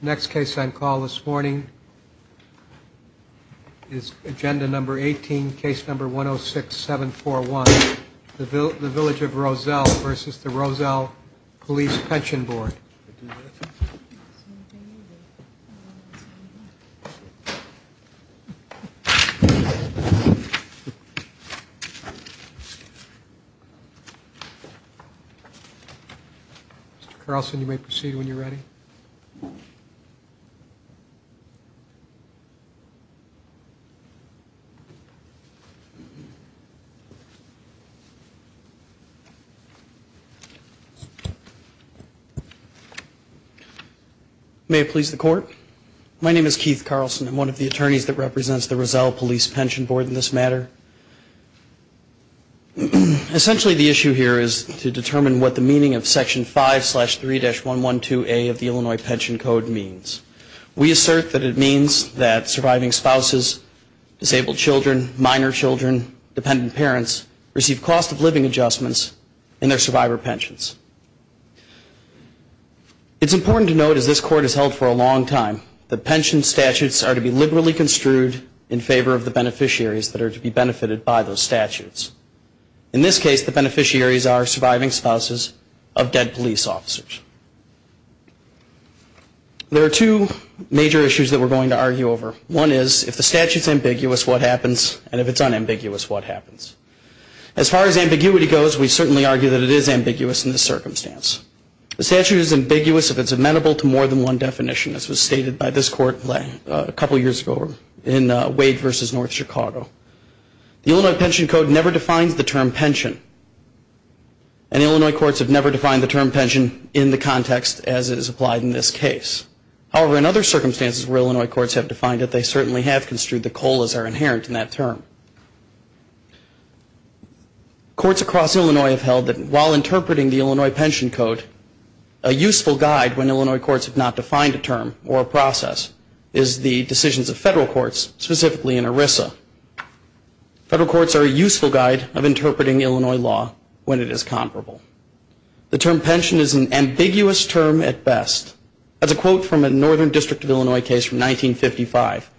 Next case on call this morning is agenda number 18 case number 106741 the village of Roselle versus the Roselle Police Pension Board. Mr. Carlson you may proceed when you're ready. May it please the court. My name is Keith Carlson. I'm one of the attorneys that represents the Roselle Police Pension Board in this matter. Essentially the issue here is to determine what the meaning of Section 5-3-112A of the Illinois Pension Code means. We assert that it means that surviving spouses, disabled children, minor children, dependent parents receive cost of living adjustments in their survivor pensions. It's important to note as this court has held for a long time that pension statutes are to be liberally construed in favor of the beneficiaries that are to be benefited by those statutes. In this case the beneficiaries are surviving spouses of dead police officers. There are two major issues that we're going to argue over. One is if the statute is ambiguous what happens and if it's unambiguous what happens. As far as ambiguity goes we certainly argue that it is ambiguous in this circumstance. The statute is ambiguous if it's amenable to more than one definition as was stated by this court a couple years ago in Wade versus North Chicago. The Illinois Pension Code never defines the term pension and Illinois courts have never defined the term pension in the context as it is applied in this case. However, in other circumstances where Illinois courts have defined it they certainly have construed the COLAs are inherent in that term. Courts across Illinois have held that while interpreting the Illinois Pension Code a useful guide when Illinois courts have not defined a term or a process is the decisions of federal courts specifically in ERISA. Federal courts are a useful guide of interpreting Illinois law when it is comparable. The term pension is an ambiguous term at best. That's a quote from a Northern District of Illinois case from 1955.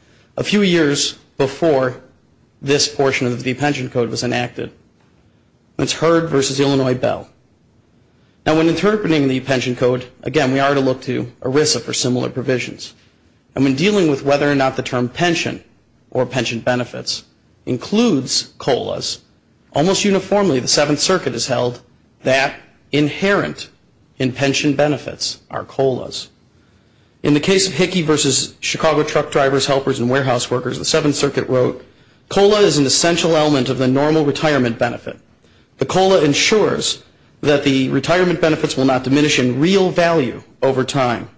It's Heard versus Illinois Bell. Now when interpreting the pension code again we are to look to ERISA for similar provisions. And when dealing with whether or not the term pension or pension benefits includes COLAs almost uniformly the Seventh Circuit has held that inherent in pension benefits are COLAs. In the case of Hickey versus Chicago truck drivers, helpers and warehouse workers the Seventh Circuit wrote, COLA is an essential element of the normal retirement benefit. The COLA ensures that the retirement benefits will not diminish in real value over time.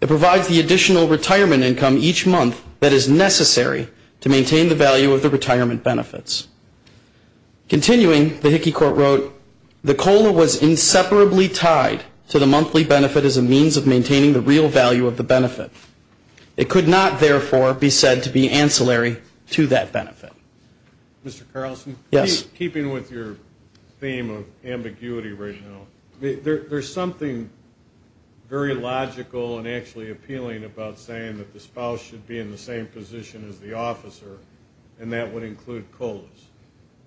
It provides the additional retirement income each month that is necessary to maintain the value of the retirement benefits. Continuing, the Hickey court wrote, the COLA was inseparably tied to the monthly benefit as a means of maintaining the real value of the benefit. It could not, therefore, be said to be ancillary to that benefit. Mr. Carlson? Yes. Keeping with your theme of ambiguity right now, there is something very logical and actually appealing about saying that the spouse should be in the same position as the officer and that would include COLAs.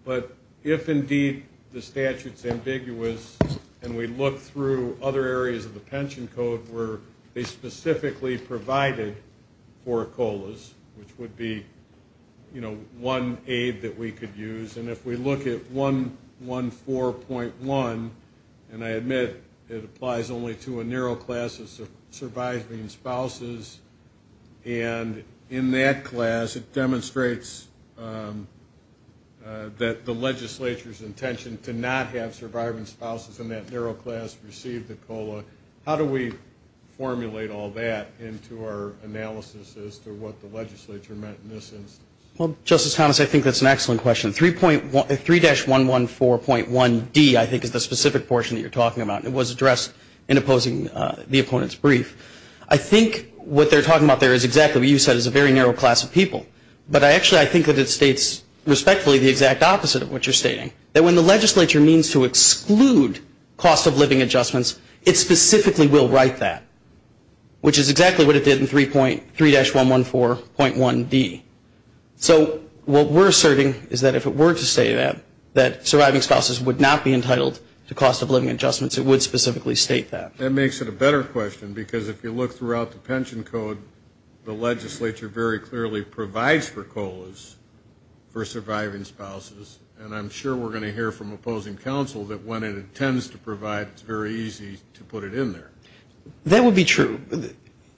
But if indeed the statute is ambiguous and we look through other areas of the pension code where they specifically provide the benefit, it would be, you know, one aid that we could use. And if we look at 114.1, and I admit it applies only to a narrow class of surviving spouses, and in that class it demonstrates that the legislature's intention to not have surviving spouses in that narrow class receive the COLA, how do we formulate all that into our analysis as to what the legislature meant in this instance? Well, Justice Thomas, I think that's an excellent question. 3-114.1d, I think, is the specific portion that you're talking about, and it was addressed in opposing the opponent's brief. I think what they're talking about there is exactly what you said, is a very narrow class of people. But actually I think that it states respectfully the exact opposite of what you're stating, that when the legislature means to exclude cost-of-living adjustments, it specifically will write that, which is exactly what it did in 3-114.1d. So what we're asserting is that if it were to say that, that surviving spouses would not be entitled to cost-of-living adjustments, it would specifically state that. That makes it a better question, because if you look throughout the pension code, the legislature very clearly provides for COLAs for surviving spouses, and I'm sure we're going to hear from opposing counsel that when it intends to provide, it's very easy to put it in there. That would be true,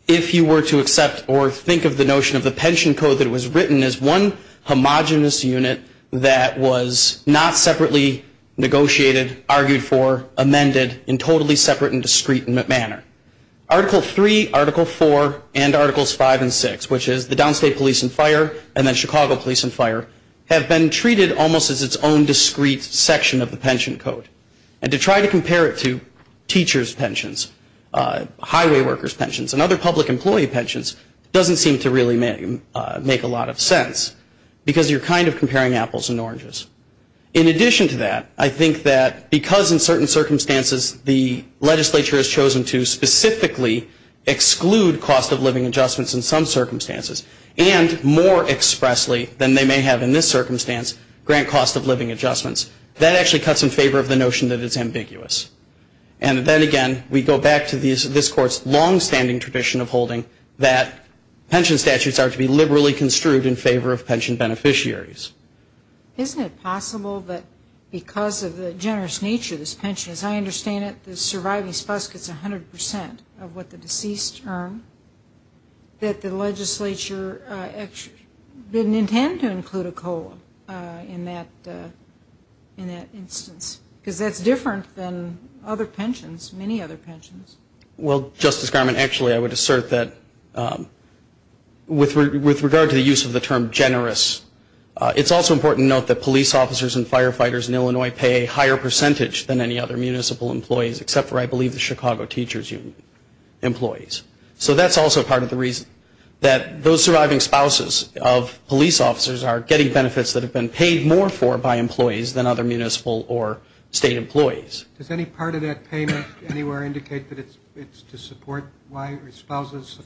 if you were to accept or think of the notion of the pension code that was written as one homogenous unit that was not separately negotiated, argued for, amended, in a totally separate and discreet manner. Article 3, Article 4, and Articles 5 and 6, which is the downstate police and fire, and then Chicago police and fire, have been treated almost as its own discreet section of the pension code. And to try to compare it to teachers' pensions, highway workers' pensions, and other public employee pensions, doesn't seem to really make a lot of sense, because you're kind of comparing apples and oranges. In addition to that, I think that because in certain circumstances the legislature has chosen to specifically exclude cost-of-living adjustments in some circumstances, and more expressly than they may have in this circumstance, grant cost-of-living adjustments, that actually cuts in favor of the notion that it's ambiguous. And then again, we go back to this Court's longstanding tradition of holding that pension statutes are to be liberally construed in favor of pension beneficiaries. Isn't it possible that because of the generous nature of this pension, as I understand it, the surviving spouse gets 100 percent of what the deceased earned, that the legislature didn't intend to include a COLA in that instance? Because that's different than other pensions, many other pensions. Well, Justice Garment, actually I would assert that with regard to the use of the term generous, it's also important to note that police officers and firefighters in Illinois pay a higher percentage than any other municipal employees, except for, I believe, the Chicago Teachers Union employees. So that's also part of the reason that those surviving spouses of police officers are getting benefits that have been paid more for by employees than other municipal or state employees. Does any part of that payment anywhere indicate that it's to support surviving spouses,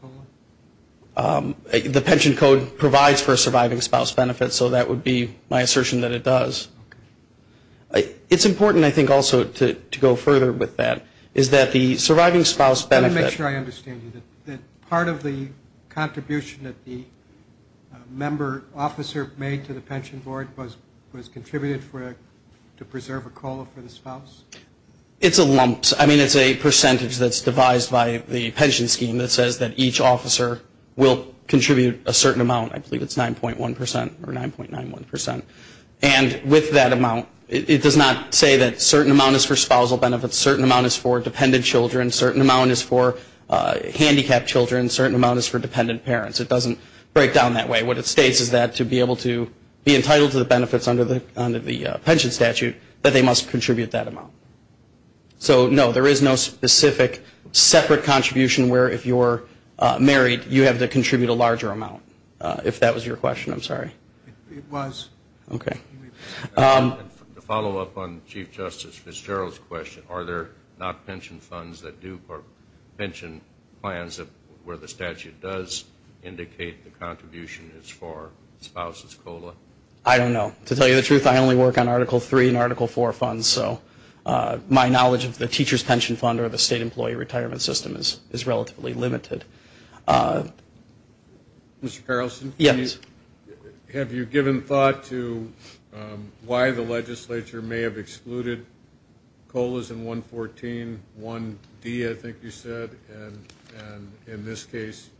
COLA? The pension code provides for a surviving spouse benefit, so that would be my assertion that it does. It's important, I think, also to go further with that, is that the surviving spouse benefit Let me make sure I understand you, that part of the contribution that the member officer made to the pension board was contributed to preserve a COLA for the spouse? It's a lump sum. I mean, it's a percentage that's devised by the pension scheme that says that each officer will contribute a certain amount. I believe it's 9.1 percent or 9.91 percent. And with that amount, it does not say that a certain amount is for spousal benefits, a certain amount is for dependent children, a certain amount is for handicapped children, a certain amount is for dependent parents. It doesn't break down that way. What it states is that to be able to be entitled to the benefits under the pension statute, that they must contribute that amount. So, no, there is no specific, separate contribution where if you're married, you have to contribute a larger amount. If that was your question, I'm sorry. It was. To follow up on Chief Justice Fitzgerald's question, are there not pension funds that do, or pension plans where the statute does indicate the contribution is for spouses' COLA? I don't know. To tell you the truth, I only work on Article III and Article IV funds, so my knowledge of the teacher's pension fund or the state employee retirement system is relatively limited. Mr. Carlson? Yes. Have you given thought to why the legislature may have excluded COLAs in 114 1D, I think you said, and in this case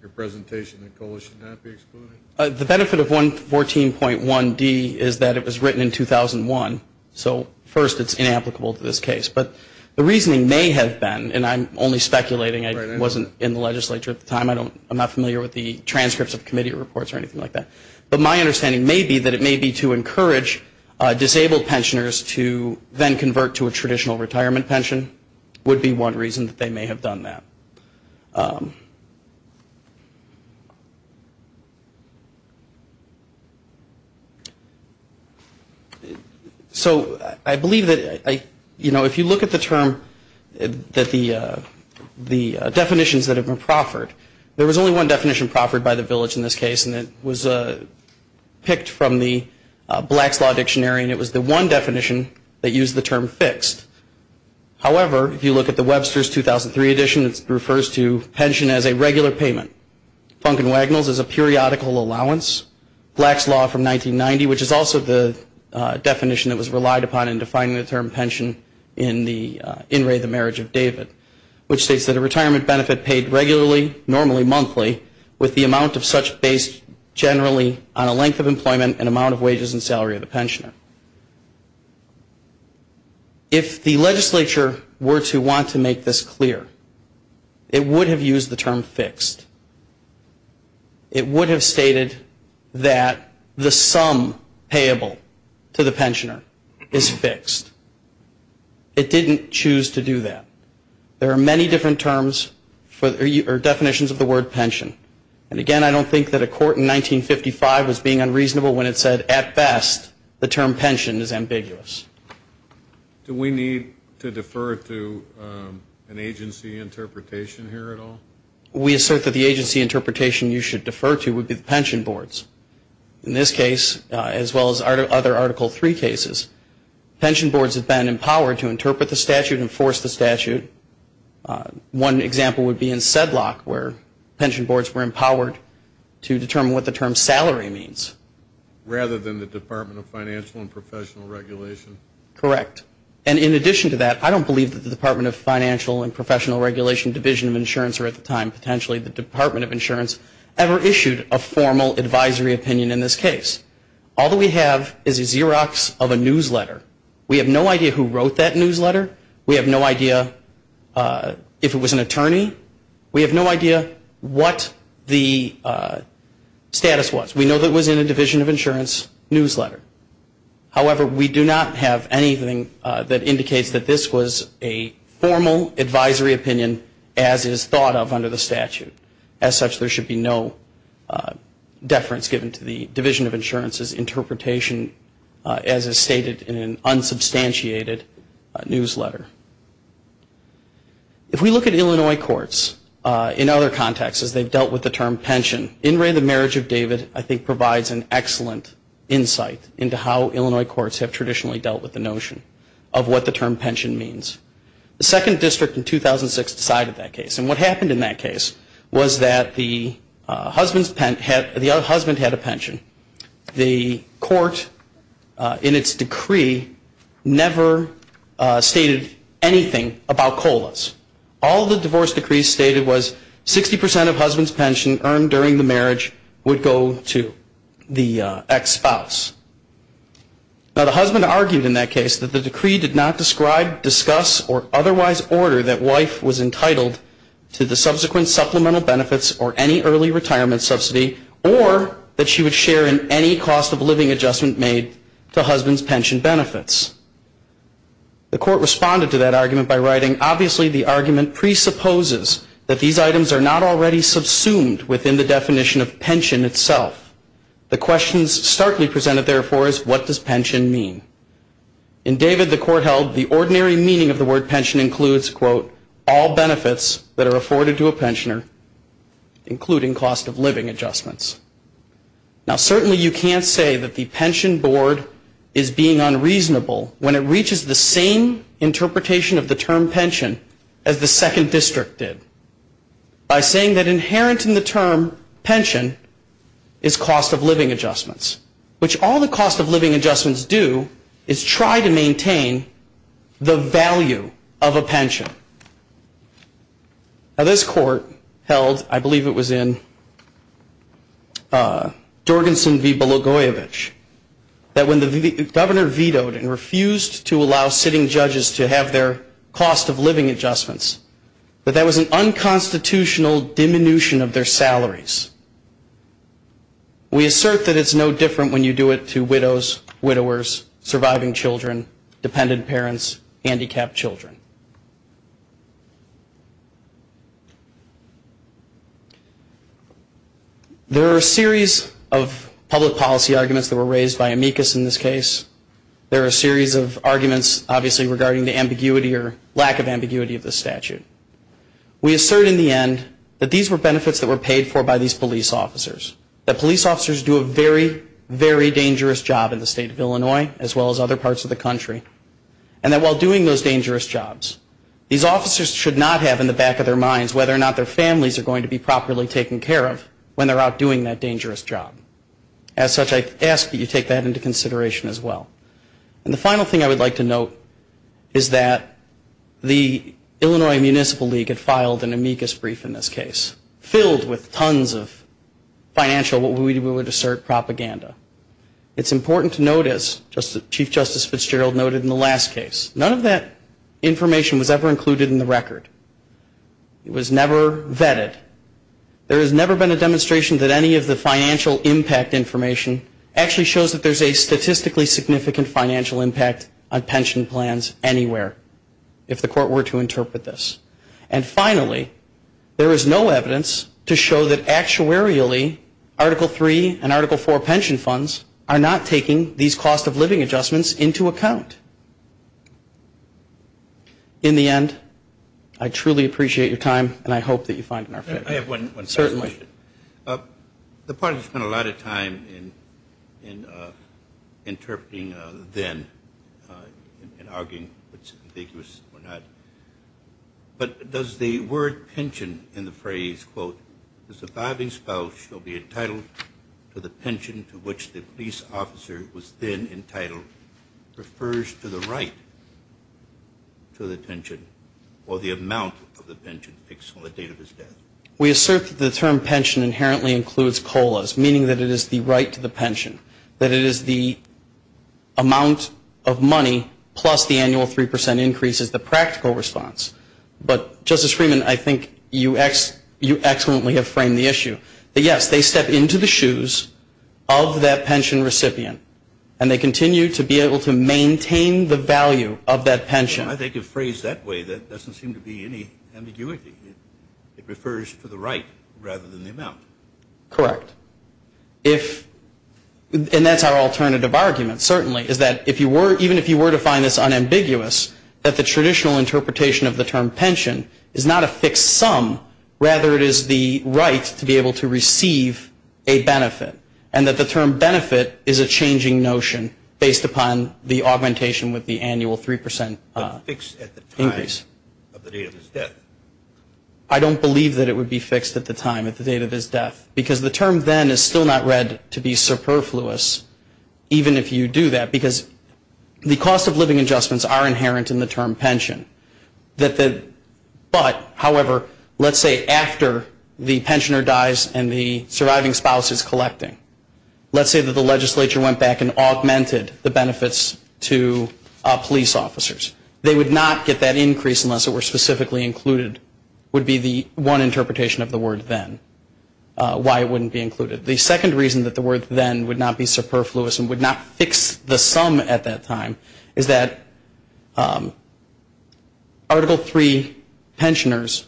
your presentation that COLA should not be excluded? The benefit of 114.1D is that it was written in 2001, so first it's inapplicable to this case. But the reasoning may have been, and I'm only speculating, I wasn't in the legislature at the time. I'm not familiar with the transcripts of committee reports or anything like that. But my understanding may be that it may be to encourage disabled pensioners to then convert to a traditional retirement pension would be one reason that they may have done that. So I believe that, you know, if you look at the term that the definitions that have been proffered, there was only one definition proffered by the village in this case, and it was picked from the Black's Law Dictionary, and it was the one definition that used the term fixed. However, if you look at the Webster's 2003 edition, it refers to pension as a regular payment. Funk and Wagnalls is a periodical allowance. Black's Law from 1990, which is also the definition that was relied upon in defining the term pension in the In Re, the Marriage of David, which states that a retirement benefit paid regularly, normally monthly, with the amount of such based generally on a length of employment and amount of wages and salary of the pensioner. If the legislature were to want to make this clear, it would have used the term fixed. It would have stated that the sum payable to the pensioner is fixed. It didn't choose to do that. There are many different terms or definitions of the word pension. And again, I don't think that a court in 1955 was being unreasonable when it said, at best, the term pension is ambiguous. Do we need to defer to an agency interpretation here at all? We assert that the agency interpretation you should defer to would be the pension boards. In this case, as well as other Article III cases, pension boards have been empowered to interpret the statute, enforce the statute. One example would be in Sedlock, where pension boards were empowered to determine what the term salary means. Rather than the Department of Financial and Professional Regulation? Correct. And in addition to that, I don't believe that the Department of Financial and Professional Regulation Division of Insurance, or at the time, potentially the Department of Insurance, ever issued a formal advisory opinion in this case. All that we have is a Xerox of a newsletter. We have no idea who wrote that newsletter. We have no idea if it was an attorney. We have no idea what the status was. We know that it was in a Division of Insurance newsletter. However, we do not have anything that indicates that this was a formal advisory opinion, as is thought of under the statute. As such, there should be no deference given to the Division of Insurance's interpretation, as is stated in an unsubstantiated newsletter. If we look at Illinois courts in other contexts, as they've dealt with the term pension, In Re, The Marriage of David, I think provides an excellent insight into how Illinois courts have traditionally dealt with the notion of what the term pension means. The 2nd District in 2006 decided that case. And what happened in that case was that the husband had a pension. The court, in its decree, never stated anything about COLAs. All the divorce decrees stated was 60% of husband's pension earned during the marriage would go to the ex-spouse. Now, the husband argued in that case that the decree did not describe, discuss, or otherwise order that wife was entitled to the subsequent supplemental benefits or any early retirement subsidy or that she would share in any cost of living adjustment made to husband's pension benefits. The court responded to that argument by writing, Obviously, the argument presupposes that these items are not already subsumed within the definition of pension itself. The questions starkly presented, therefore, is what does pension mean? In David, the court held the ordinary meaning of the word pension includes, quote, all benefits that are afforded to a pensioner, including cost of living adjustments. Now, certainly you can't say that the pension board is being unreasonable when it reaches the same interpretation of the term pension as the 2nd District did by saying that inherent in the term pension is cost of living adjustments, which all the cost of living adjustments do is try to maintain the value of a pension. Now, this court held, I believe it was in Jorgensen v. Belogoyevich, that when the governor vetoed and refused to allow sitting judges to have their cost of living adjustments, that that was an unconstitutional diminution of their salaries. We assert that it's no different when you do it to widows, widowers, surviving children, dependent parents, handicapped children. There are a series of public policy arguments that were raised by amicus in this case. There are a series of arguments, obviously, regarding the ambiguity or lack of ambiguity of this statute. We assert in the end that these were benefits that were paid for by these police officers, that police officers do a very, very dangerous job in the state of Illinois as well as other parts of the country, and that while doing those dangerous jobs, these officers should not have in the back of their minds whether or not their families are going to be properly taken care of when they're out doing that dangerous job. As such, I ask that you take that into consideration as well. And the final thing I would like to note is that the Illinois Municipal League had filed an amicus brief in this case that was filled with tons of financial, what we would assert, propaganda. It's important to note, as Chief Justice Fitzgerald noted in the last case, none of that information was ever included in the record. It was never vetted. There has never been a demonstration that any of the financial impact information actually shows that there's a statistically significant financial impact on pension plans anywhere, if the Court were to interpret this. And finally, there is no evidence to show that actuarially Article III and Article IV pension funds are not taking these cost of living adjustments into account. In the end, I truly appreciate your time, and I hope that you find it in our favor. I have one final question. The parties spent a lot of time in interpreting then and arguing what's ambiguous or not. But does the word pension in the phrase, quote, the surviving spouse shall be entitled to the pension to which the police officer was then entitled, refers to the right to the pension or the amount of the pension fixed on the date of his death? We assert that the term pension inherently includes colas, meaning that it is the right to the pension, that it is the amount of money plus the annual 3 percent increase as the practical response. But, Justice Freeman, I think you excellently have framed the issue. Yes, they step into the shoes of that pension recipient, and they continue to be able to maintain the value of that pension. I think a phrase that way doesn't seem to be any ambiguity. It refers to the right rather than the amount. Correct. And that's our alternative argument, certainly, is that even if you were to find this unambiguous, that the traditional interpretation of the term pension is not a fixed sum, rather it is the right to be able to receive a benefit, and that the term benefit is a changing notion based upon the augmentation with the annual 3 percent increase. Fixed at the time of the date of his death. I don't believe that it would be fixed at the time, at the date of his death, because the term then is still not read to be superfluous, even if you do that, because the cost of living adjustments are inherent in the term pension. But, however, let's say after the pensioner dies and the surviving spouse is collecting, let's say that the legislature went back and augmented the benefits to police officers. They would not get that increase unless it were specifically included, would be the one interpretation of the word then, why it wouldn't be included. The second reason that the word then would not be superfluous and would not fix the sum at that time is that Article III pensioners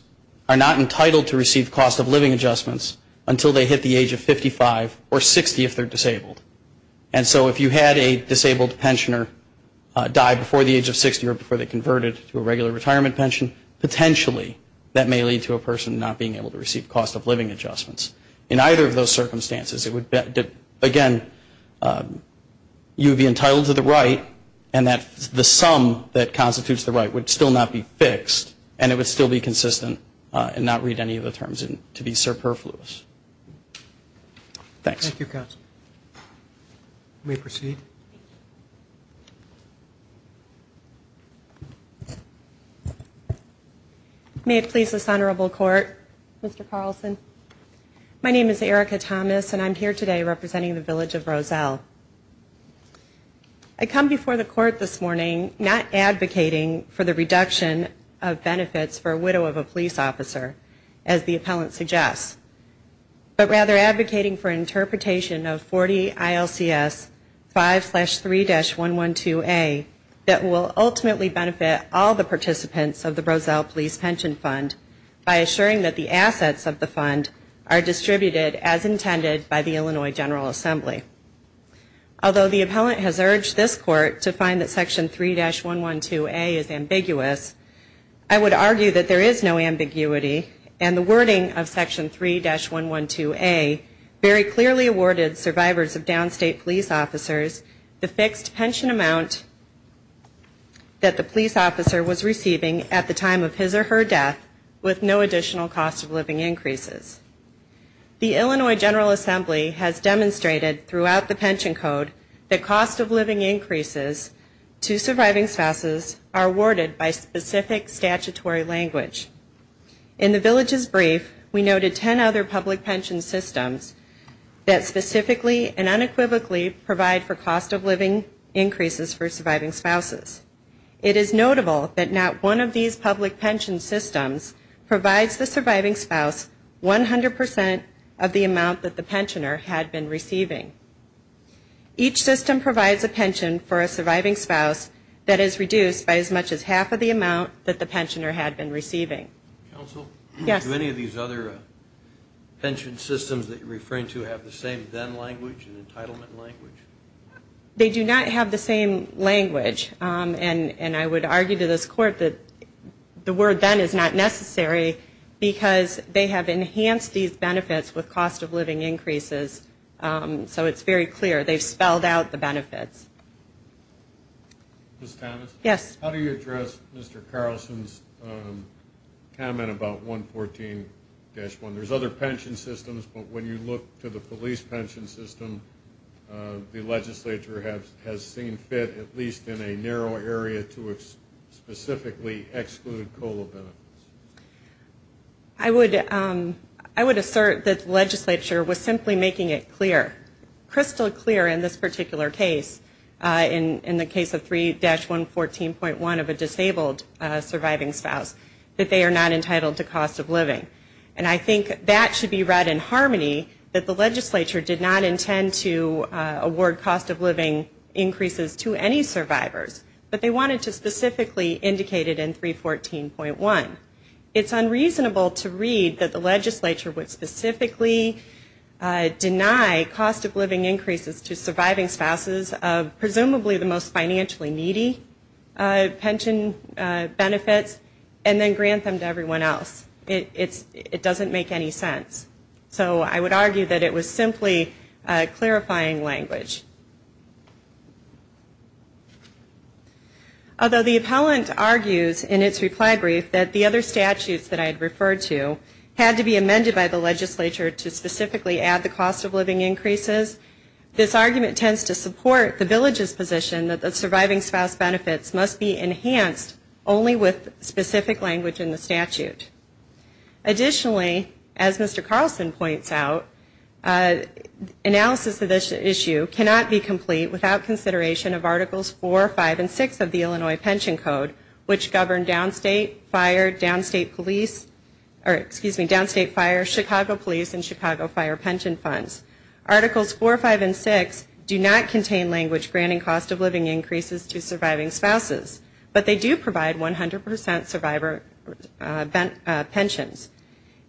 are not entitled to receive cost of living adjustments until they hit the age of 55 or 60 if they're disabled. And so if you had a disabled pensioner die before the age of 60 or before they converted to a regular retirement pension, potentially that may lead to a person not being able to receive cost of living adjustments. In either of those circumstances, it would, again, you would be entitled to the right and that the sum that constitutes the right would still not be fixed and it would still be consistent and not read any of the terms to be superfluous. Thanks. Thank you, counsel. You may proceed. May it please this Honorable Court, Mr. Carlson. My name is Erica Thomas and I'm here today representing the Village of Roselle. I come before the court this morning not advocating for the reduction of benefits for a widow of a police officer, as the appellant suggests, but rather advocating for interpretation of 40 ILCS 557, section 5-3-112A that will ultimately benefit all the participants of the Roselle Police Pension Fund by assuring that the assets of the fund are distributed as intended by the Illinois General Assembly. Although the appellant has urged this court to find that section 3-112A is ambiguous, I would argue that there is no ambiguity and the wording of section 3-112A very clearly awarded survivors of downstate police officers the fixed pension amount that the police officer was receiving at the time of his or her death with no additional cost of living increases. The Illinois General Assembly has demonstrated throughout the pension code that cost of living increases to surviving spouses are awarded by specific statutory language. In the Village's brief, we noted 10 other public pension systems that specifically and unequivocally provide for cost of living increases for surviving spouses. It is notable that not one of these public pension systems provides the surviving spouse 100 percent of the amount that the pensioner had been receiving. Each system provides a pension for a surviving spouse that is reduced by as much as half of the amount that the pensioner had been receiving. Counsel? Yes. Do any of these other pension systems that you're referring to have the same then language, an entitlement language? They do not have the same language. And I would argue to this court that the word then is not necessary because they have enhanced these benefits with cost of living increases. So it's very clear. They've spelled out the benefits. Ms. Thomas? Yes. How do you address Mr. Carlson's comment about 114-1? There's other pension systems, but when you look to the police pension system, the legislature has seen fit at least in a narrow area to specifically exclude COLA benefits. I would assert that the legislature was simply making it clear, crystal clear in this particular case, in the case of 3-114.1 of a disabled surviving spouse, that they are not entitled to cost of living. And I think that should be read in harmony, that the legislature did not intend to award cost of living increases to any survivors, but they wanted to specifically indicate it in 314.1. It's unreasonable to read that the legislature would specifically deny cost of living increases to surviving spouses of presumably the most financially needy pension benefits and then grant them to everyone else. It doesn't make any sense. So I would argue that it was simply clarifying language. Although the appellant argues in its reply brief that the other statutes that I had referred to had to be amended by the legislature to specifically add the cost of living increases, this argument tends to support the village's position that the surviving spouse benefits must be enhanced only with specific language in the statute. Additionally, as Mr. Carlson points out, analysis of this issue cannot be complete without consideration of Articles 4, 5, and 6 of the Illinois Pension Code, which govern downstate, fire, downstate police, or excuse me, downstate fire, Chicago police, and Chicago fire pension funds. Articles 4, 5, and 6 do not contain language granting cost of living increases to surviving spouses, but they do provide 100% survivor pensions.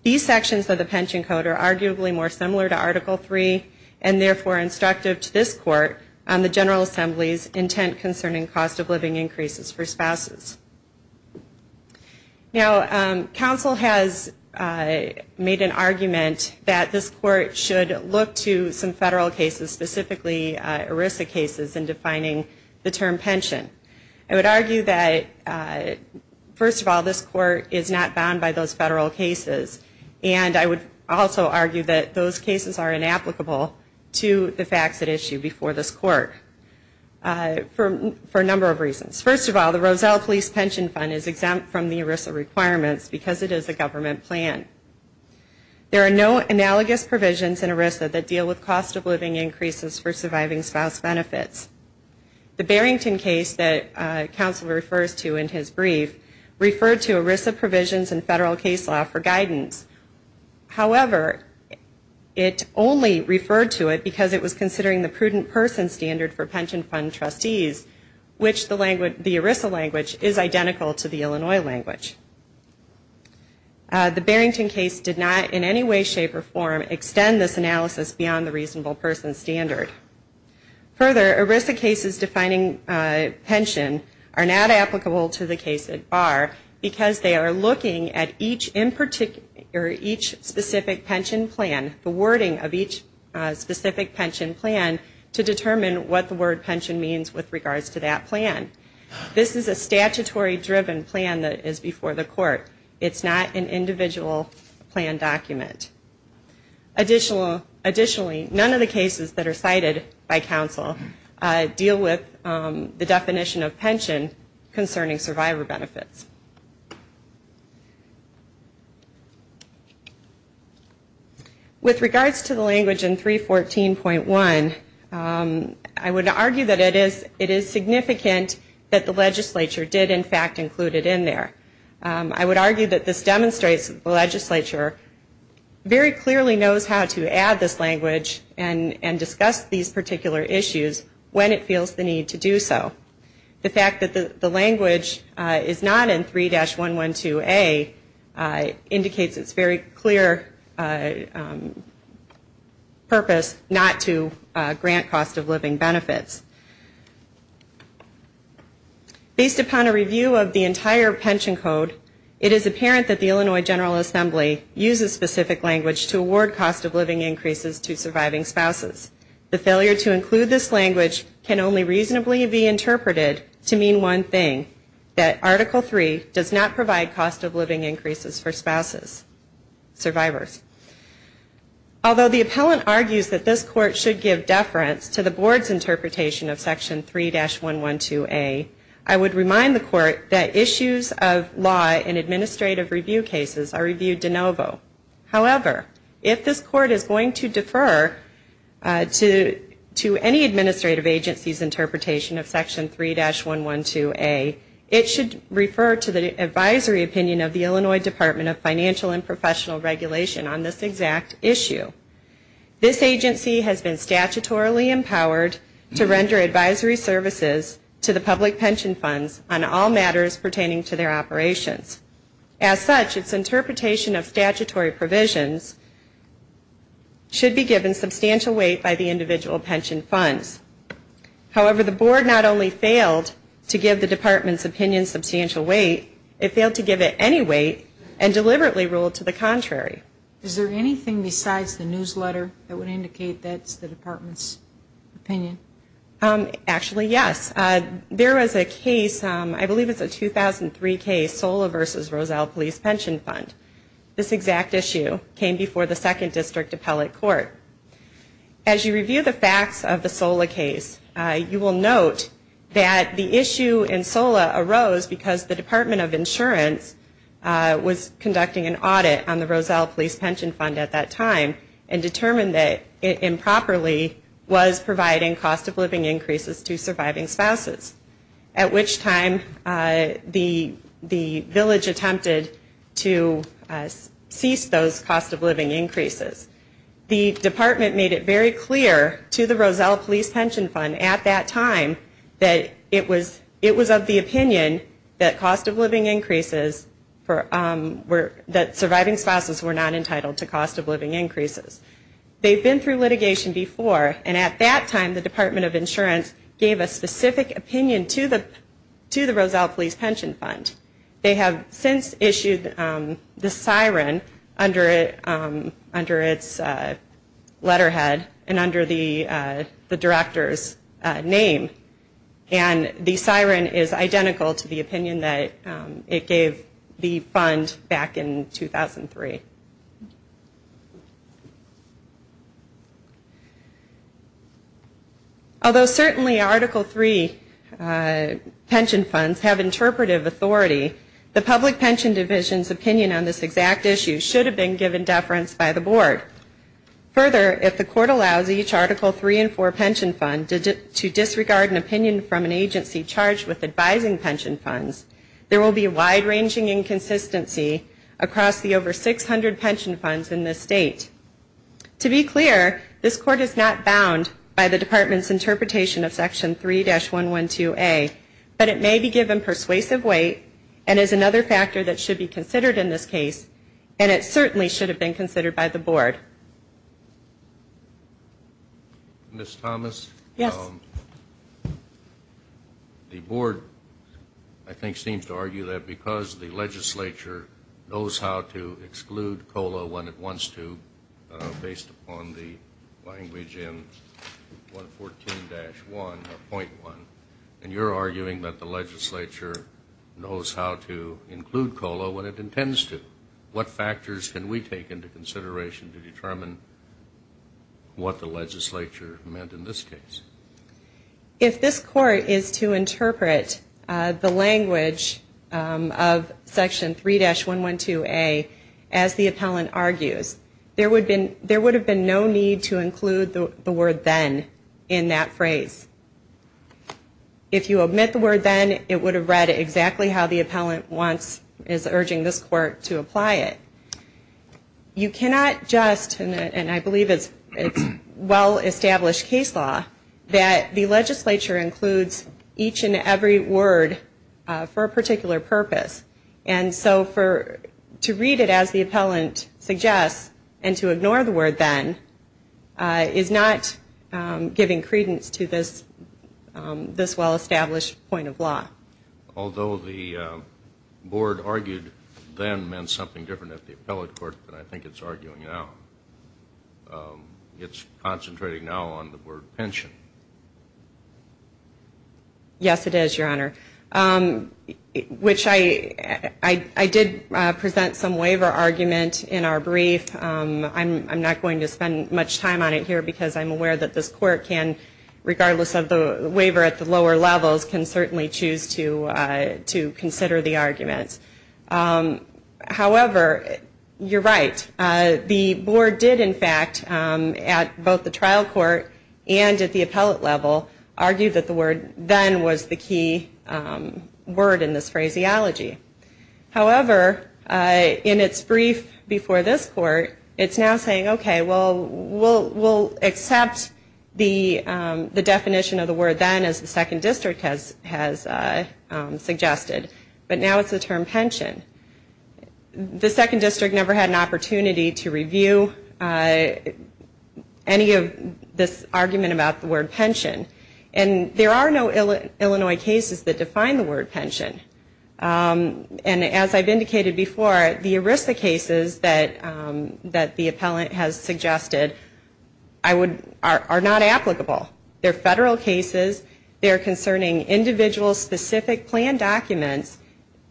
These sections of the pension code are arguably more similar to Article 3 and therefore instructive to this court on the General Assembly's intent concerning cost of living increases for spouses. Now, counsel has made an argument that this court should look to some federal cases, specifically ERISA cases, in defining the term pension. I would argue that, first of all, this court is not bound by those federal cases, and I would also argue that those cases are inapplicable to the facts at issue before this court for a number of reasons. First of all, the Roselle Police Pension Fund is exempt from the ERISA requirements because it is a government plan. There are no analogous provisions in ERISA that deal with cost of living increases for surviving spouse benefits. The Barrington case that counsel refers to in his brief referred to ERISA provisions in federal case law for guidance. However, it only referred to it because it was considering the prudent person standard for pension fund trustees, which the ERISA language is identical to the Illinois language. The Barrington case did not in any way, shape, or form extend this analysis beyond the reasonable person standard. Further, ERISA cases defining pension are not applicable to the case at bar because they are looking at each specific pension plan, the wording of each specific pension plan, to determine what the word pension means with regards to that plan. This is a statutory driven plan that is before the court. It's not an individual plan document. Additionally, none of the cases that are cited by counsel deal with the definition of pension concerning survivor benefits. With regards to the language in 314.1, I would argue that it is significant that the legislature did, in fact, include it in there. I would argue that this demonstrates the legislature very clearly knows how to add this language and discuss these particular issues when it feels the need to do so. The fact that the language is not in 3-112A indicates it's very clear purpose not to grant cost of living benefits. Based upon a review of the entire pension code, it is apparent that the Illinois General Assembly uses specific language to award cost of living increases to surviving spouses. The failure to include this language can only reasonably be interpreted to mean one thing, that Article III does not provide cost of living increases for spouses, survivors. Although the appellant argues that this court should give deference to the board's interpretation, of Section 3-112A, I would remind the court that issues of law in administrative review cases are reviewed de novo. However, if this court is going to defer to any administrative agency's interpretation of Section 3-112A, it should refer to the advisory opinion of the Illinois Department of Financial and Professional Regulation on this exact issue. This agency has been statutorily empowered to render advisory services to the public pension funds on all matters pertaining to their operations. As such, its interpretation of statutory provisions should be given substantial weight by the individual pension funds. However, the board not only failed to give the department's opinion substantial weight, it failed to give it any weight and deliberately ruled to the contrary. Is there anything besides the newsletter that would indicate that's the department's opinion? Actually, yes. There was a case, I believe it's a 2003 case, Sola v. Roselle Police Pension Fund. This exact issue came before the Second District Appellate Court. As you review the facts of the Sola case, you will note that the issue in Sola arose because the Department of Insurance was conducting an audit on the Roselle Police Pension Fund at that time and determined that it improperly was providing cost-of-living increases to surviving spouses, at which time the village attempted to cease those cost-of-living increases. The department made it very clear to the Roselle Police Pension Fund at that time that it was of the opinion that cost-of-living increases, that surviving spouses were not entitled to cost-of-living increases. They've been through litigation before, and at that time the Department of Insurance gave a specific opinion to the Roselle Police Pension Fund. They have since issued the siren under its letterhead and under the director's name, and the siren is identical to the opinion that it gave the fund back in 2003. Although certainly Article III pension funds have interpretive authority, the Public Pension Division's opinion on this exact issue should have been given deference by the Board. Further, if the Court allows each Article III and IV pension fund to disregard an opinion from an agency charged with advising pension funds, there will be a wide-ranging inconsistency across the over 600 pension funds in this state. To be clear, this Court is not bound by the Department's interpretation of Section 3-112A, but it may be given persuasive weight and is another factor that should be considered in this case, and it certainly should have been considered by the Board. Ms. Thomas? Yes. The Board, I think, seems to argue that because the Legislature knows how to exclude COLA when it wants to, based upon the language in 114-1.1, and you're arguing that the Legislature knows how to include COLA when it intends to, what factors can we take into consideration to determine what the Legislature meant in this case? If this Court is to interpret the language of Section 3-112A as the appellant argues, there would have been no need to include the word then in that phrase. If you omit the word then, it would have read exactly how the appellant wants, is urging this Court to apply it. You cannot just, and I believe it's well-established case law, that the Legislature includes each and every word for a particular purpose, and so to read it as the appellant suggests and to ignore the word then is not giving credence to this well-established point of law. Although the board argued then meant something different at the appellate court than I think it's arguing now. It's concentrating now on the word pension. Yes, it is, Your Honor. Which I did present some waiver argument in our brief. I'm not going to spend much time on it here because I'm aware that this Court can, regardless of the waiver at the lower levels, can certainly choose to consider the argument. However, you're right. The board did, in fact, at both the trial court and at the appellate level, argue that the word then was the key word in this phraseology. However, in its brief before this Court, it's now saying, okay, well, we'll accept the definition of the word then, as the Second District has suggested. But now it's the term pension. The Second District never had an opportunity to review any of this argument about the word pension. And there are no Illinois cases that define the word pension. And as I've indicated before, the ERISA cases that the appellant has suggested are not applicable. They're federal cases. They're concerning individual specific plan documents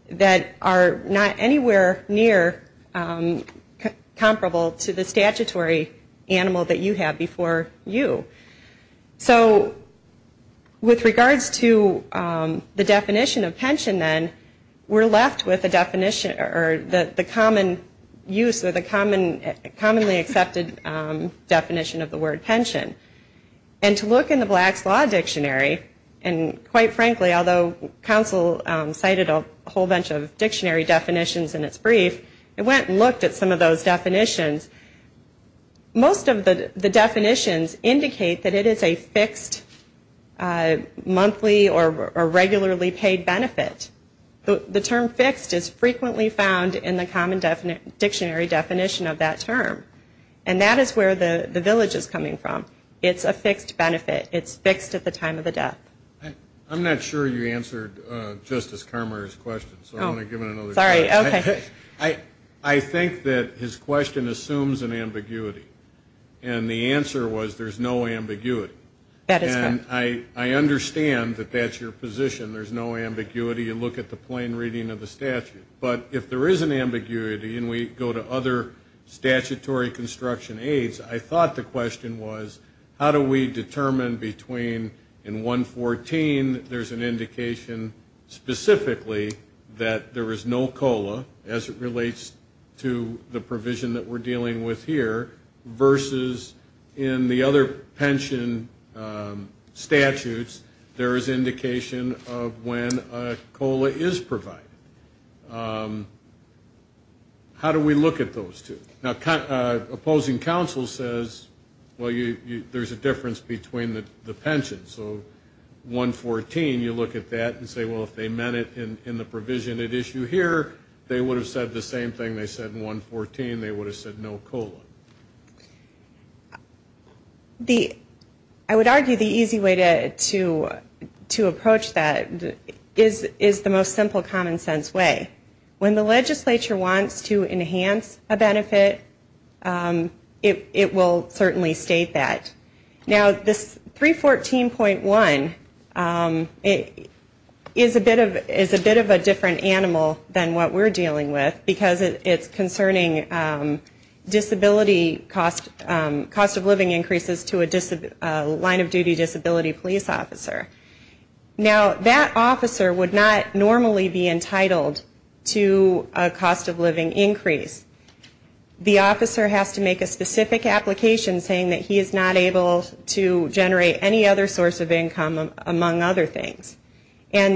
that are not anywhere near comparable to the statutory animal that you have before you. So with regards to the definition of pension then, we're left with a definition, or the common use, or the commonly accepted definition of the word pension. And to look in the Black's Law Dictionary, and quite frankly, although counsel cited a whole bunch of dictionary definitions in its brief, it went and looked at some of those definitions. Most of the definitions indicate that it is a fixed monthly or regularly paid benefit. The term fixed is frequently found in the common dictionary definition of that term. And that is where the village is coming from. It's a fixed benefit. It's fixed at the time of the death. I'm not sure you answered Justice Carmeier's question, so I'm going to give it another go. I think that his question assumes an ambiguity. And the answer was there's no ambiguity. And I understand that that's your position. There's no ambiguity. You look at the plain reading of the statute. But if there is an ambiguity and we go to other statutory construction aids, I thought the question was how do we determine between in 114 there's an indication specifically that there is no COLA as it relates to the provision that we're dealing with here versus in the other pension statutes there is indication of when a COLA is provided. How do we look at those two? Now, opposing counsel says, well, there's a difference between the pensions. So 114, you look at that and say, well, if they meant it in the provision at issue here, they would have said the same thing they said in 114. They would have said no COLA. I would argue the easy way to approach that is the most simple common sense way. When the legislature wants to enhance a benefit, it will certainly state that. Now, this 314.1 is a bit of a different animal than what we're dealing with, because it's concerning disability cost of living increases to a line of duty disability police officer. Now, that officer would not normally be entitled to a cost of living increase. The officer has to make a specific application saying that he is not able to generate any other source of income, among other things.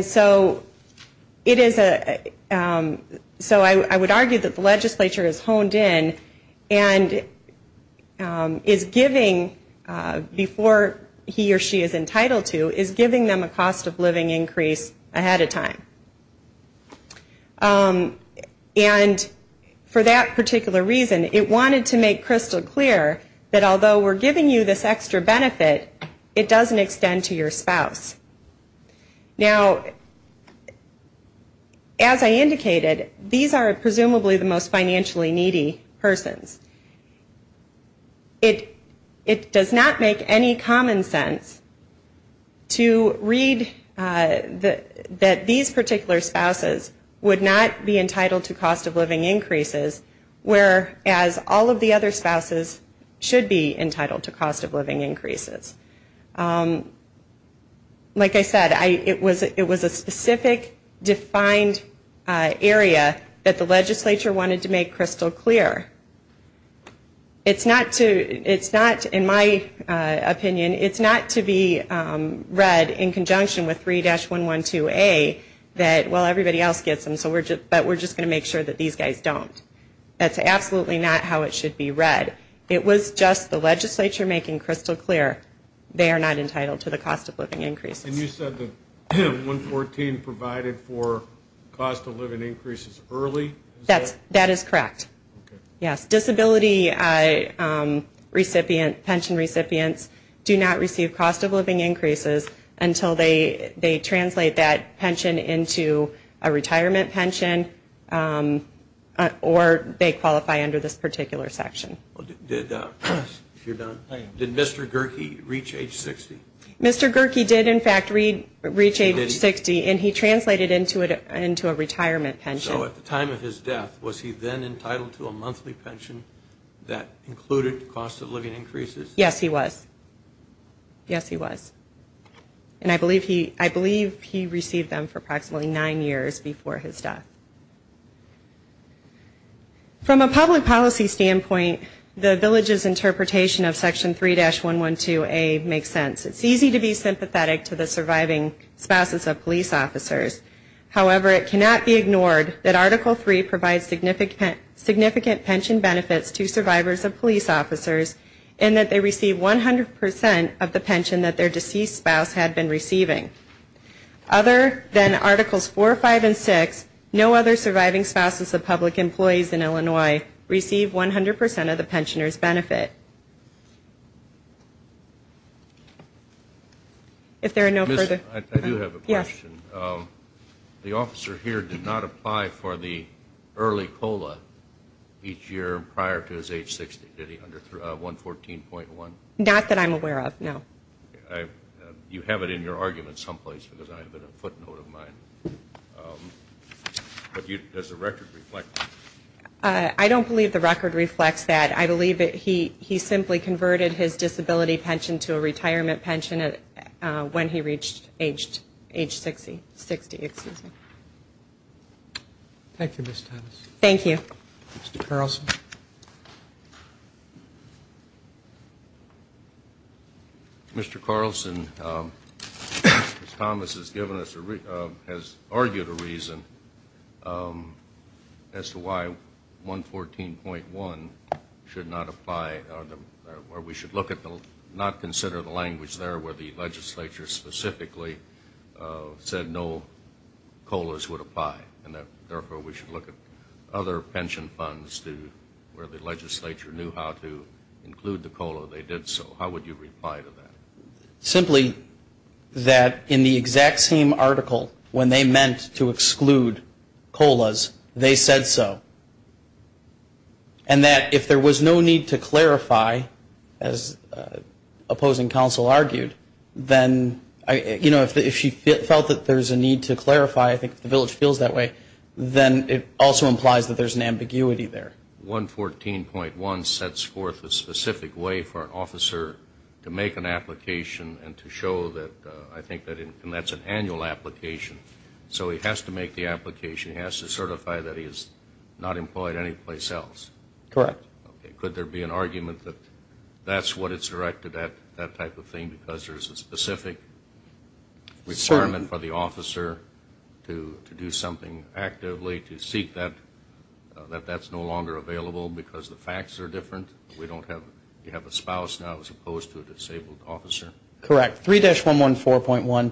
So I would argue that the legislature is honed in and is giving, before he or she is entitled to, is giving them a cost of living increase ahead of time. And for that particular reason, it wanted to make crystal clear that although we're giving you this extra benefit, it doesn't extend to your spouse. Now, as I indicated, these are presumably the most financially needy persons. It does not make any common sense to read that these particular persons are the most financially needy. These particular spouses would not be entitled to cost of living increases, whereas all of the other spouses should be entitled to cost of living increases. Like I said, it was a specific, defined area that the legislature wanted to make crystal clear. It's not, in my opinion, it's not to be read in conjunction with 3-112A that, well, everybody else gets them, but we're just going to make sure that these guys don't. That's absolutely not how it should be read. It was just the legislature making crystal clear they are not entitled to the cost of living increases. And you said that 3-114 provided for cost of living increases early? That is correct. Yes, disability pension recipients do not receive cost of living increases until they translate that pension into a retirement pension or they qualify under this particular section. Did Mr. Gerke reach age 60? Mr. Gerke did, in fact, reach age 60, and he translated into a retirement pension. So at the time of his death, was he then entitled to a monthly pension that included cost of living increases? Yes, he was. Yes, he was. And I believe he received them for approximately nine years before his death. From a public policy standpoint, the village's interpretation of Section 3-112A makes sense. It's easy to be sympathetic to the surviving spouses of police officers. However, it cannot be ignored that Article 3 provides significant pension benefits to survivors of police officers in that they receive 100 percent of the pension that their deceased spouse had been receiving. Other than Articles 4, 5, and 6, no other surviving spouses of public employees in Illinois receive 100 percent of the pensioner's benefit. If there are no further... I do have a question. The officer here did not apply for the early COLA each year prior to his age 60, did he, under 114.1? Not that I'm aware of, no. You have it in your argument someplace, because I have it in a footnote of mine. But does the record reflect that? I don't believe the record reflects that. I believe that he simply converted his disability pension to a retirement pension when he reached age 60. Thank you, Ms. Thomas. Mr. Carlson. Mr. Carlson, Ms. Thomas has argued a reason as to why 114.1 should not apply, or we should not consider the language there where the legislature specifically said no COLAs would apply, and therefore we should look at other pension funds where the legislature knew how to include the COLA, they did so. How would you reply to that? Simply that in the exact same article when they meant to exclude COLAs, they said so. And that if there was no need to clarify, as opposing counsel argued, then, you know, if she felt that there's a need to clarify, I think if the village feels that way, then it also implies that there's an ambiguity there. 114.1 sets forth a specific way for an officer to make an application and to show that, I think, and that's an annual application. So he has to make the application, he has to certify that he is not employed anyplace else. Correct. Okay, could there be an argument that that's what it's directed at, that type of thing, because there's a specific requirement for the officer to do something actively, to seek that, that that's no longer available because the facts are different? We don't have, you have a spouse now as opposed to a disabled officer? Correct. 3-114.1,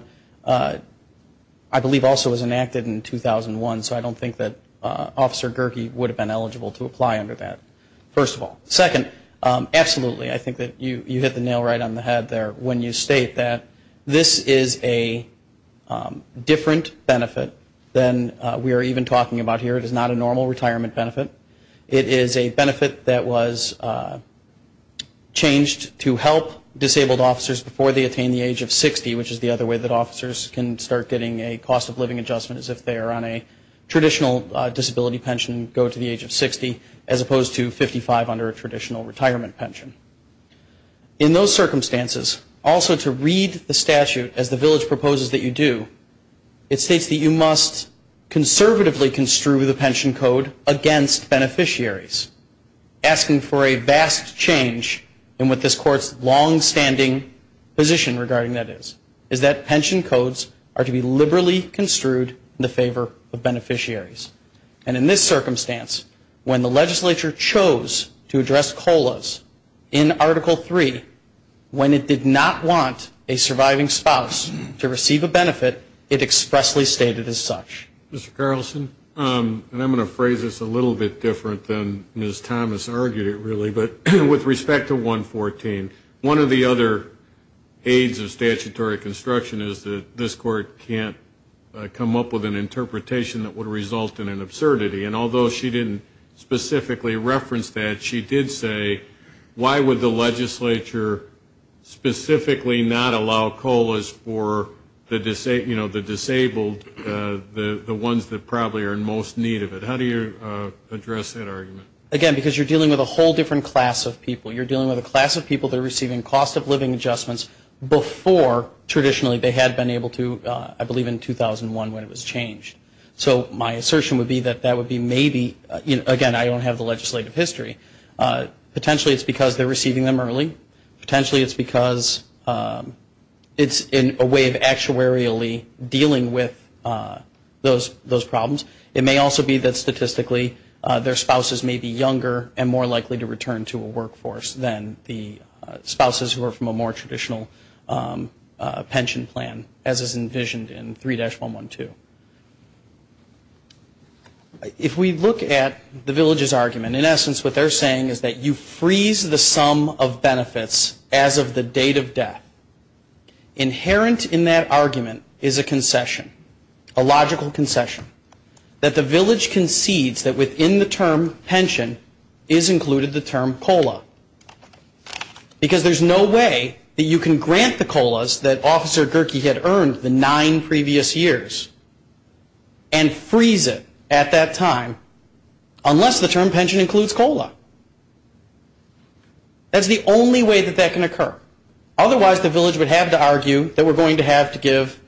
I believe also was enacted in 2001, so I don't think that Officer Gerke would have been eligible to apply under that, first of all. Second, absolutely, I think that you hit the nail right on the head there when you state that this is a different benefit than we are even talking about here. It is not a normal retirement benefit. It is a benefit that was changed to help disabled officers before they attain the age of 60, which is the other way that officers can start getting a cost of living adjustment, as if they are on a traditional disability pension, go to the age of 60, as opposed to 55 under a traditional retirement pension. In those circumstances, also to read the statute as the village proposes that you do, it states that you must conservatively construe the pension code against beneficiaries, asking for a vast change in what this Court's longstanding position regarding that is, is that pension codes are to be liberally construed in the favor of beneficiaries. And in this circumstance, when the legislature chose to address COLAs in Article III, when it did not want a surviving spouse to receive a benefit, it expressly stated as such. Mr. Carlson, and I'm going to phrase this a little bit different than Ms. Thomas argued it really, but with respect to 114, one of the other aids of statutory construction is that this Court can't come up with an interpretation that would result in an absurdity. And although she didn't specifically reference that, she did say, why would the legislature specifically not allow COLAs for the disabled, the ones that probably are in most need of it? How do you address that argument? Again, because you're dealing with a whole different class of people. You're dealing with a class of people that are receiving cost of living adjustments before traditionally they had been able to, I believe in 2001 when it was changed. So my assertion would be that that would be maybe, again, I don't have the legislative history. Potentially it's because they're receiving them early. Potentially it's because it's in a way of actuarially dealing with those problems. It may also be that statistically their spouses may be younger and more likely to return to a workforce than the spouses who are from a more traditional pension plan, as is envisioned in 3-112. If we look at the village's argument, in essence what they're saying is that you freeze the sum of benefits as of the date of death. Inherent in that argument is a concession, a logical concession, that the village concedes that within the term pension is included the term COLA. Because there's no way that you can grant the COLAs that Officer Gerke had earned the nine previous years and freeze it at that time unless the term pension includes COLA. That's the only way that that can occur. Otherwise the village would have to argue that we're going to have to give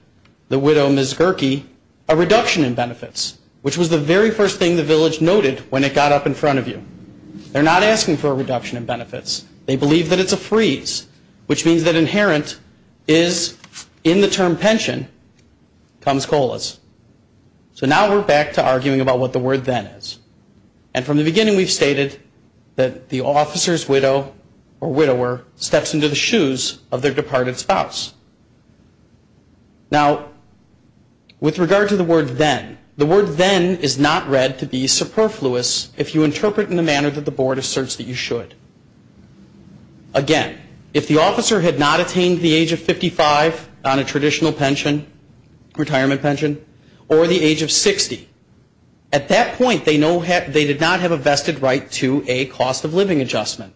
the widow, Ms. Gerke, a reduction in benefits, which was the very first thing the village noted when it got up in front of you. They're not asking for a reduction in benefits. They believe that it's a freeze, which means that inherent is in the term pension comes COLAs. So now we're back to arguing about what the word then is. And from the beginning we've stated that the officer's widow or widower steps into the shoes of their departed spouse. Now, with regard to the word then, the word then is not read to be superfluous if you interpret in the manner that the board asserts that you should. Again, if the officer had not attained the age of 55 on a traditional pension, retirement pension, or the age of 60, at that point they did not have a vested right to a cost of living adjustment.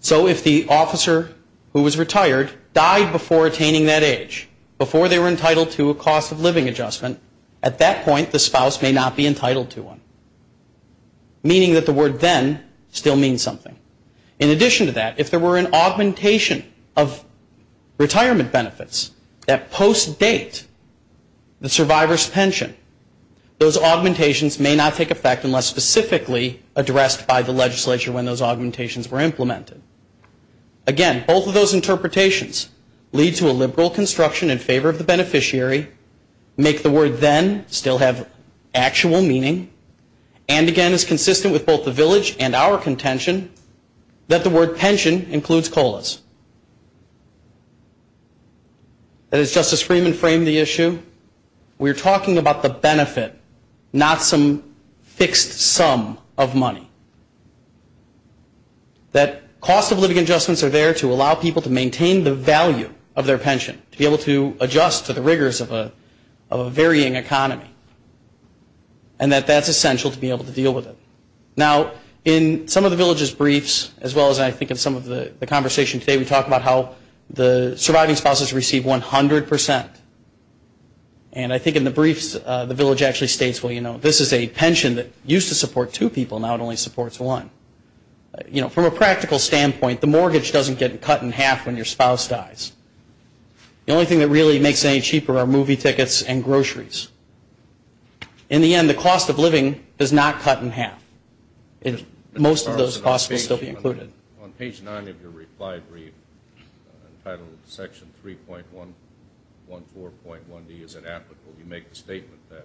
So if the officer who was retired died before attaining that age, before they were entitled to a cost of living adjustment, at that point the spouse may not be entitled to one. Meaning that the word then still means something. In addition to that, if there were an augmentation of retirement benefits that post-date the survivor's pension, those augmentations may not take effect unless specifically addressed by the legislature when those augmentations were implemented. Again, both of those interpretations lead to a liberal construction in favor of the beneficiary, make the word then still have actual meaning, and again is consistent with both the village and our contention, that the word pension includes COLAs. As Justice Freeman framed the issue, we are talking about the benefit, not some fixed sum of money. That cost of living adjustments are there to allow people to maintain the value of their pension, to be able to adjust to the rigors of a varying economy, and that that's essential to be able to deal with it. Now, in some of the village's briefs, as well as I think in some of the conversation today, we talked about how the surviving spouses receive 100%. And I think in the briefs the village actually states, well, you know, the only thing that really makes anything cheaper are movie tickets and groceries. In the end, the cost of living is not cut in half. Most of those costs will still be included. On page 9 of your reply brief, entitled Section 3.14.1D, you make the statement that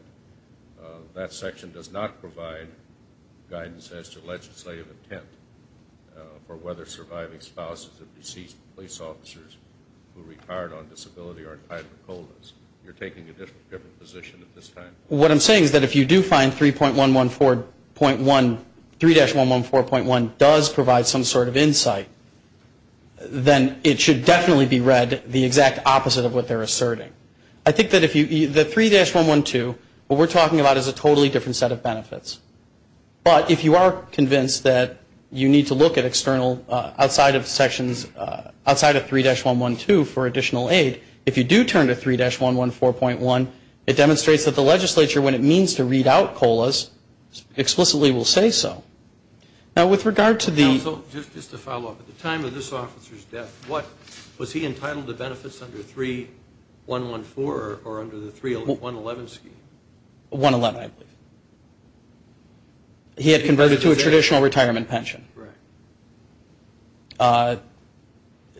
that section does not provide guidance as to legislative intent for whether surviving spouses of deceased police officers who retired on disability are entitled to COLAs. You're taking a different position at this time. What I'm saying is that if you do find 3.114.1, 3-114.1 does provide some sort of insight, then it should definitely be read the exact opposite of what they're asserting. I think that if you, the 3-112, what we're talking about is a totally different set of benefits. But if you are convinced that you need to look at external, outside of sections, outside of 3-112 for additional aid, if you do turn to 3-114.1, it demonstrates that the legislature, when it means to read out COLAs, explicitly will say so. Now, with regard to the ---- So just to follow up, at the time of this officer's death, was he entitled to benefits under 3-114 or under the 3-111 scheme? 1-111, I believe. He had converted to a traditional retirement pension.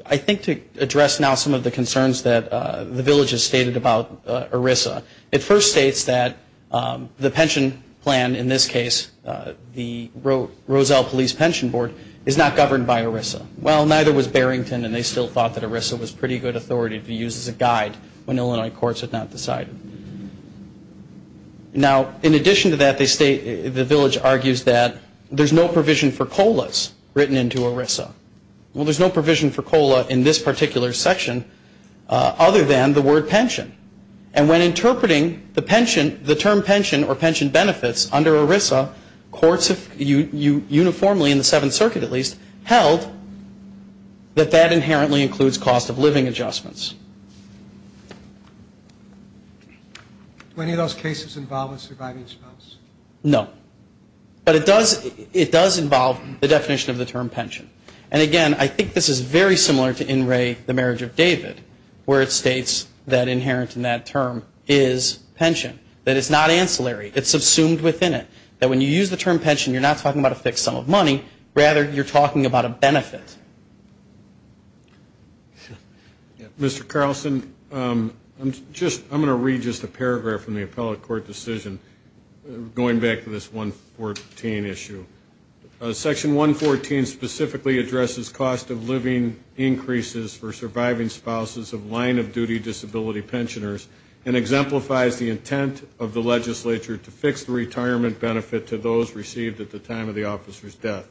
I think to address now some of the concerns that the villages stated about ERISA, it first states that the pension plan, in this case the Roselle Police Pension Board, is not governed by ERISA. Well, neither was Barrington, and they still thought that ERISA was pretty good authority to use as a guide when Illinois courts had not decided. Now, in addition to that, the village argues that there's no provision for COLAs written into ERISA. Well, there's no provision for COLA in this particular section other than the word pension. And when interpreting the term pension or pension benefits under ERISA, courts uniformly, in the Seventh Circuit at least, held that that inherently includes cost of living adjustments. Do any of those cases involve a surviving spouse? No. But it does involve the definition of the term pension. And, again, I think this is very similar to in re the marriage of David, where it states that inherent in that term is pension, that it's not ancillary. It's subsumed within it, that when you use the term pension, you're not talking about a fixed sum of money. Rather, you're talking about a benefit. Mr. Carlson, I'm going to read just a paragraph from the appellate court decision, going back to this 114 issue. Section 114 specifically addresses cost of living increases for surviving spouses of line-of-duty disability pensioners and exemplifies the intent of the legislature to fix the retirement benefit to those received at the time of the officer's death.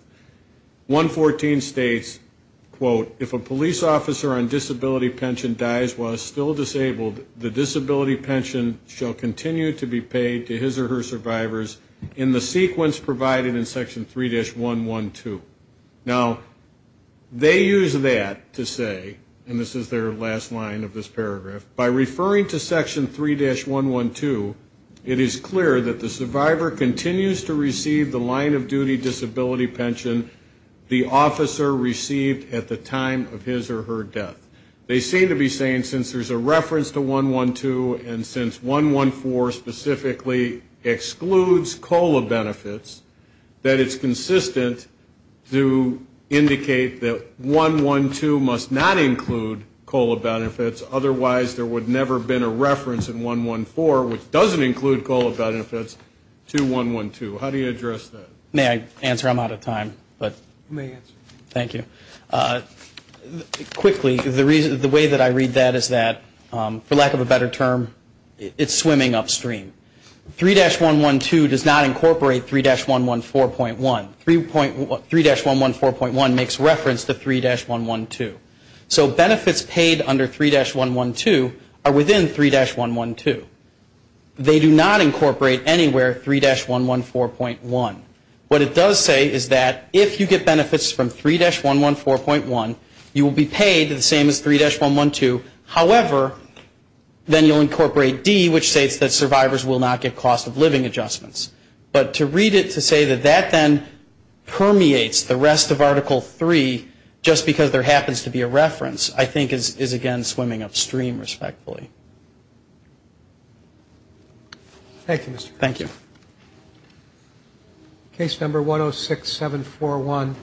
114 states, quote, if a police officer on disability pension dies while still disabled, the disability pension shall continue to be paid to his or her survivors in the sequence provided in Section 3-112. Now, they use that to say, and this is their last line of this paragraph, by referring to Section 3-112, it is clear that the survivor continues to receive the line-of-duty disability pension the officer received at the time of his or her death. They seem to be saying since there's a reference to 112 and since 114 specifically excludes COLA benefits, that it's consistent to indicate that 112 must not include COLA benefits, otherwise there would never have been a reference in 114, which doesn't include COLA benefits, to 112. How do you address that? May I answer? I'm out of time. You may answer. Thank you. Quickly, the way that I read that is that, for lack of a better term, it's swimming upstream. 3-112 does not incorporate 3-114.1. 3-114.1 makes reference to 3-112. So benefits paid under 3-112 are within 3-112. They do not incorporate anywhere 3-114.1. What it does say is that if you get benefits from 3-114.1, you will be paid the same as 3-112. However, then you'll incorporate D, which states that survivors will not get cost-of-living adjustments. But to read it to say that that then permeates the rest of Article 3, just because there happens to be a reference, I think, is, again, swimming upstream, respectfully. Thank you, Mr. Chairman. Thank you. Case number 106741.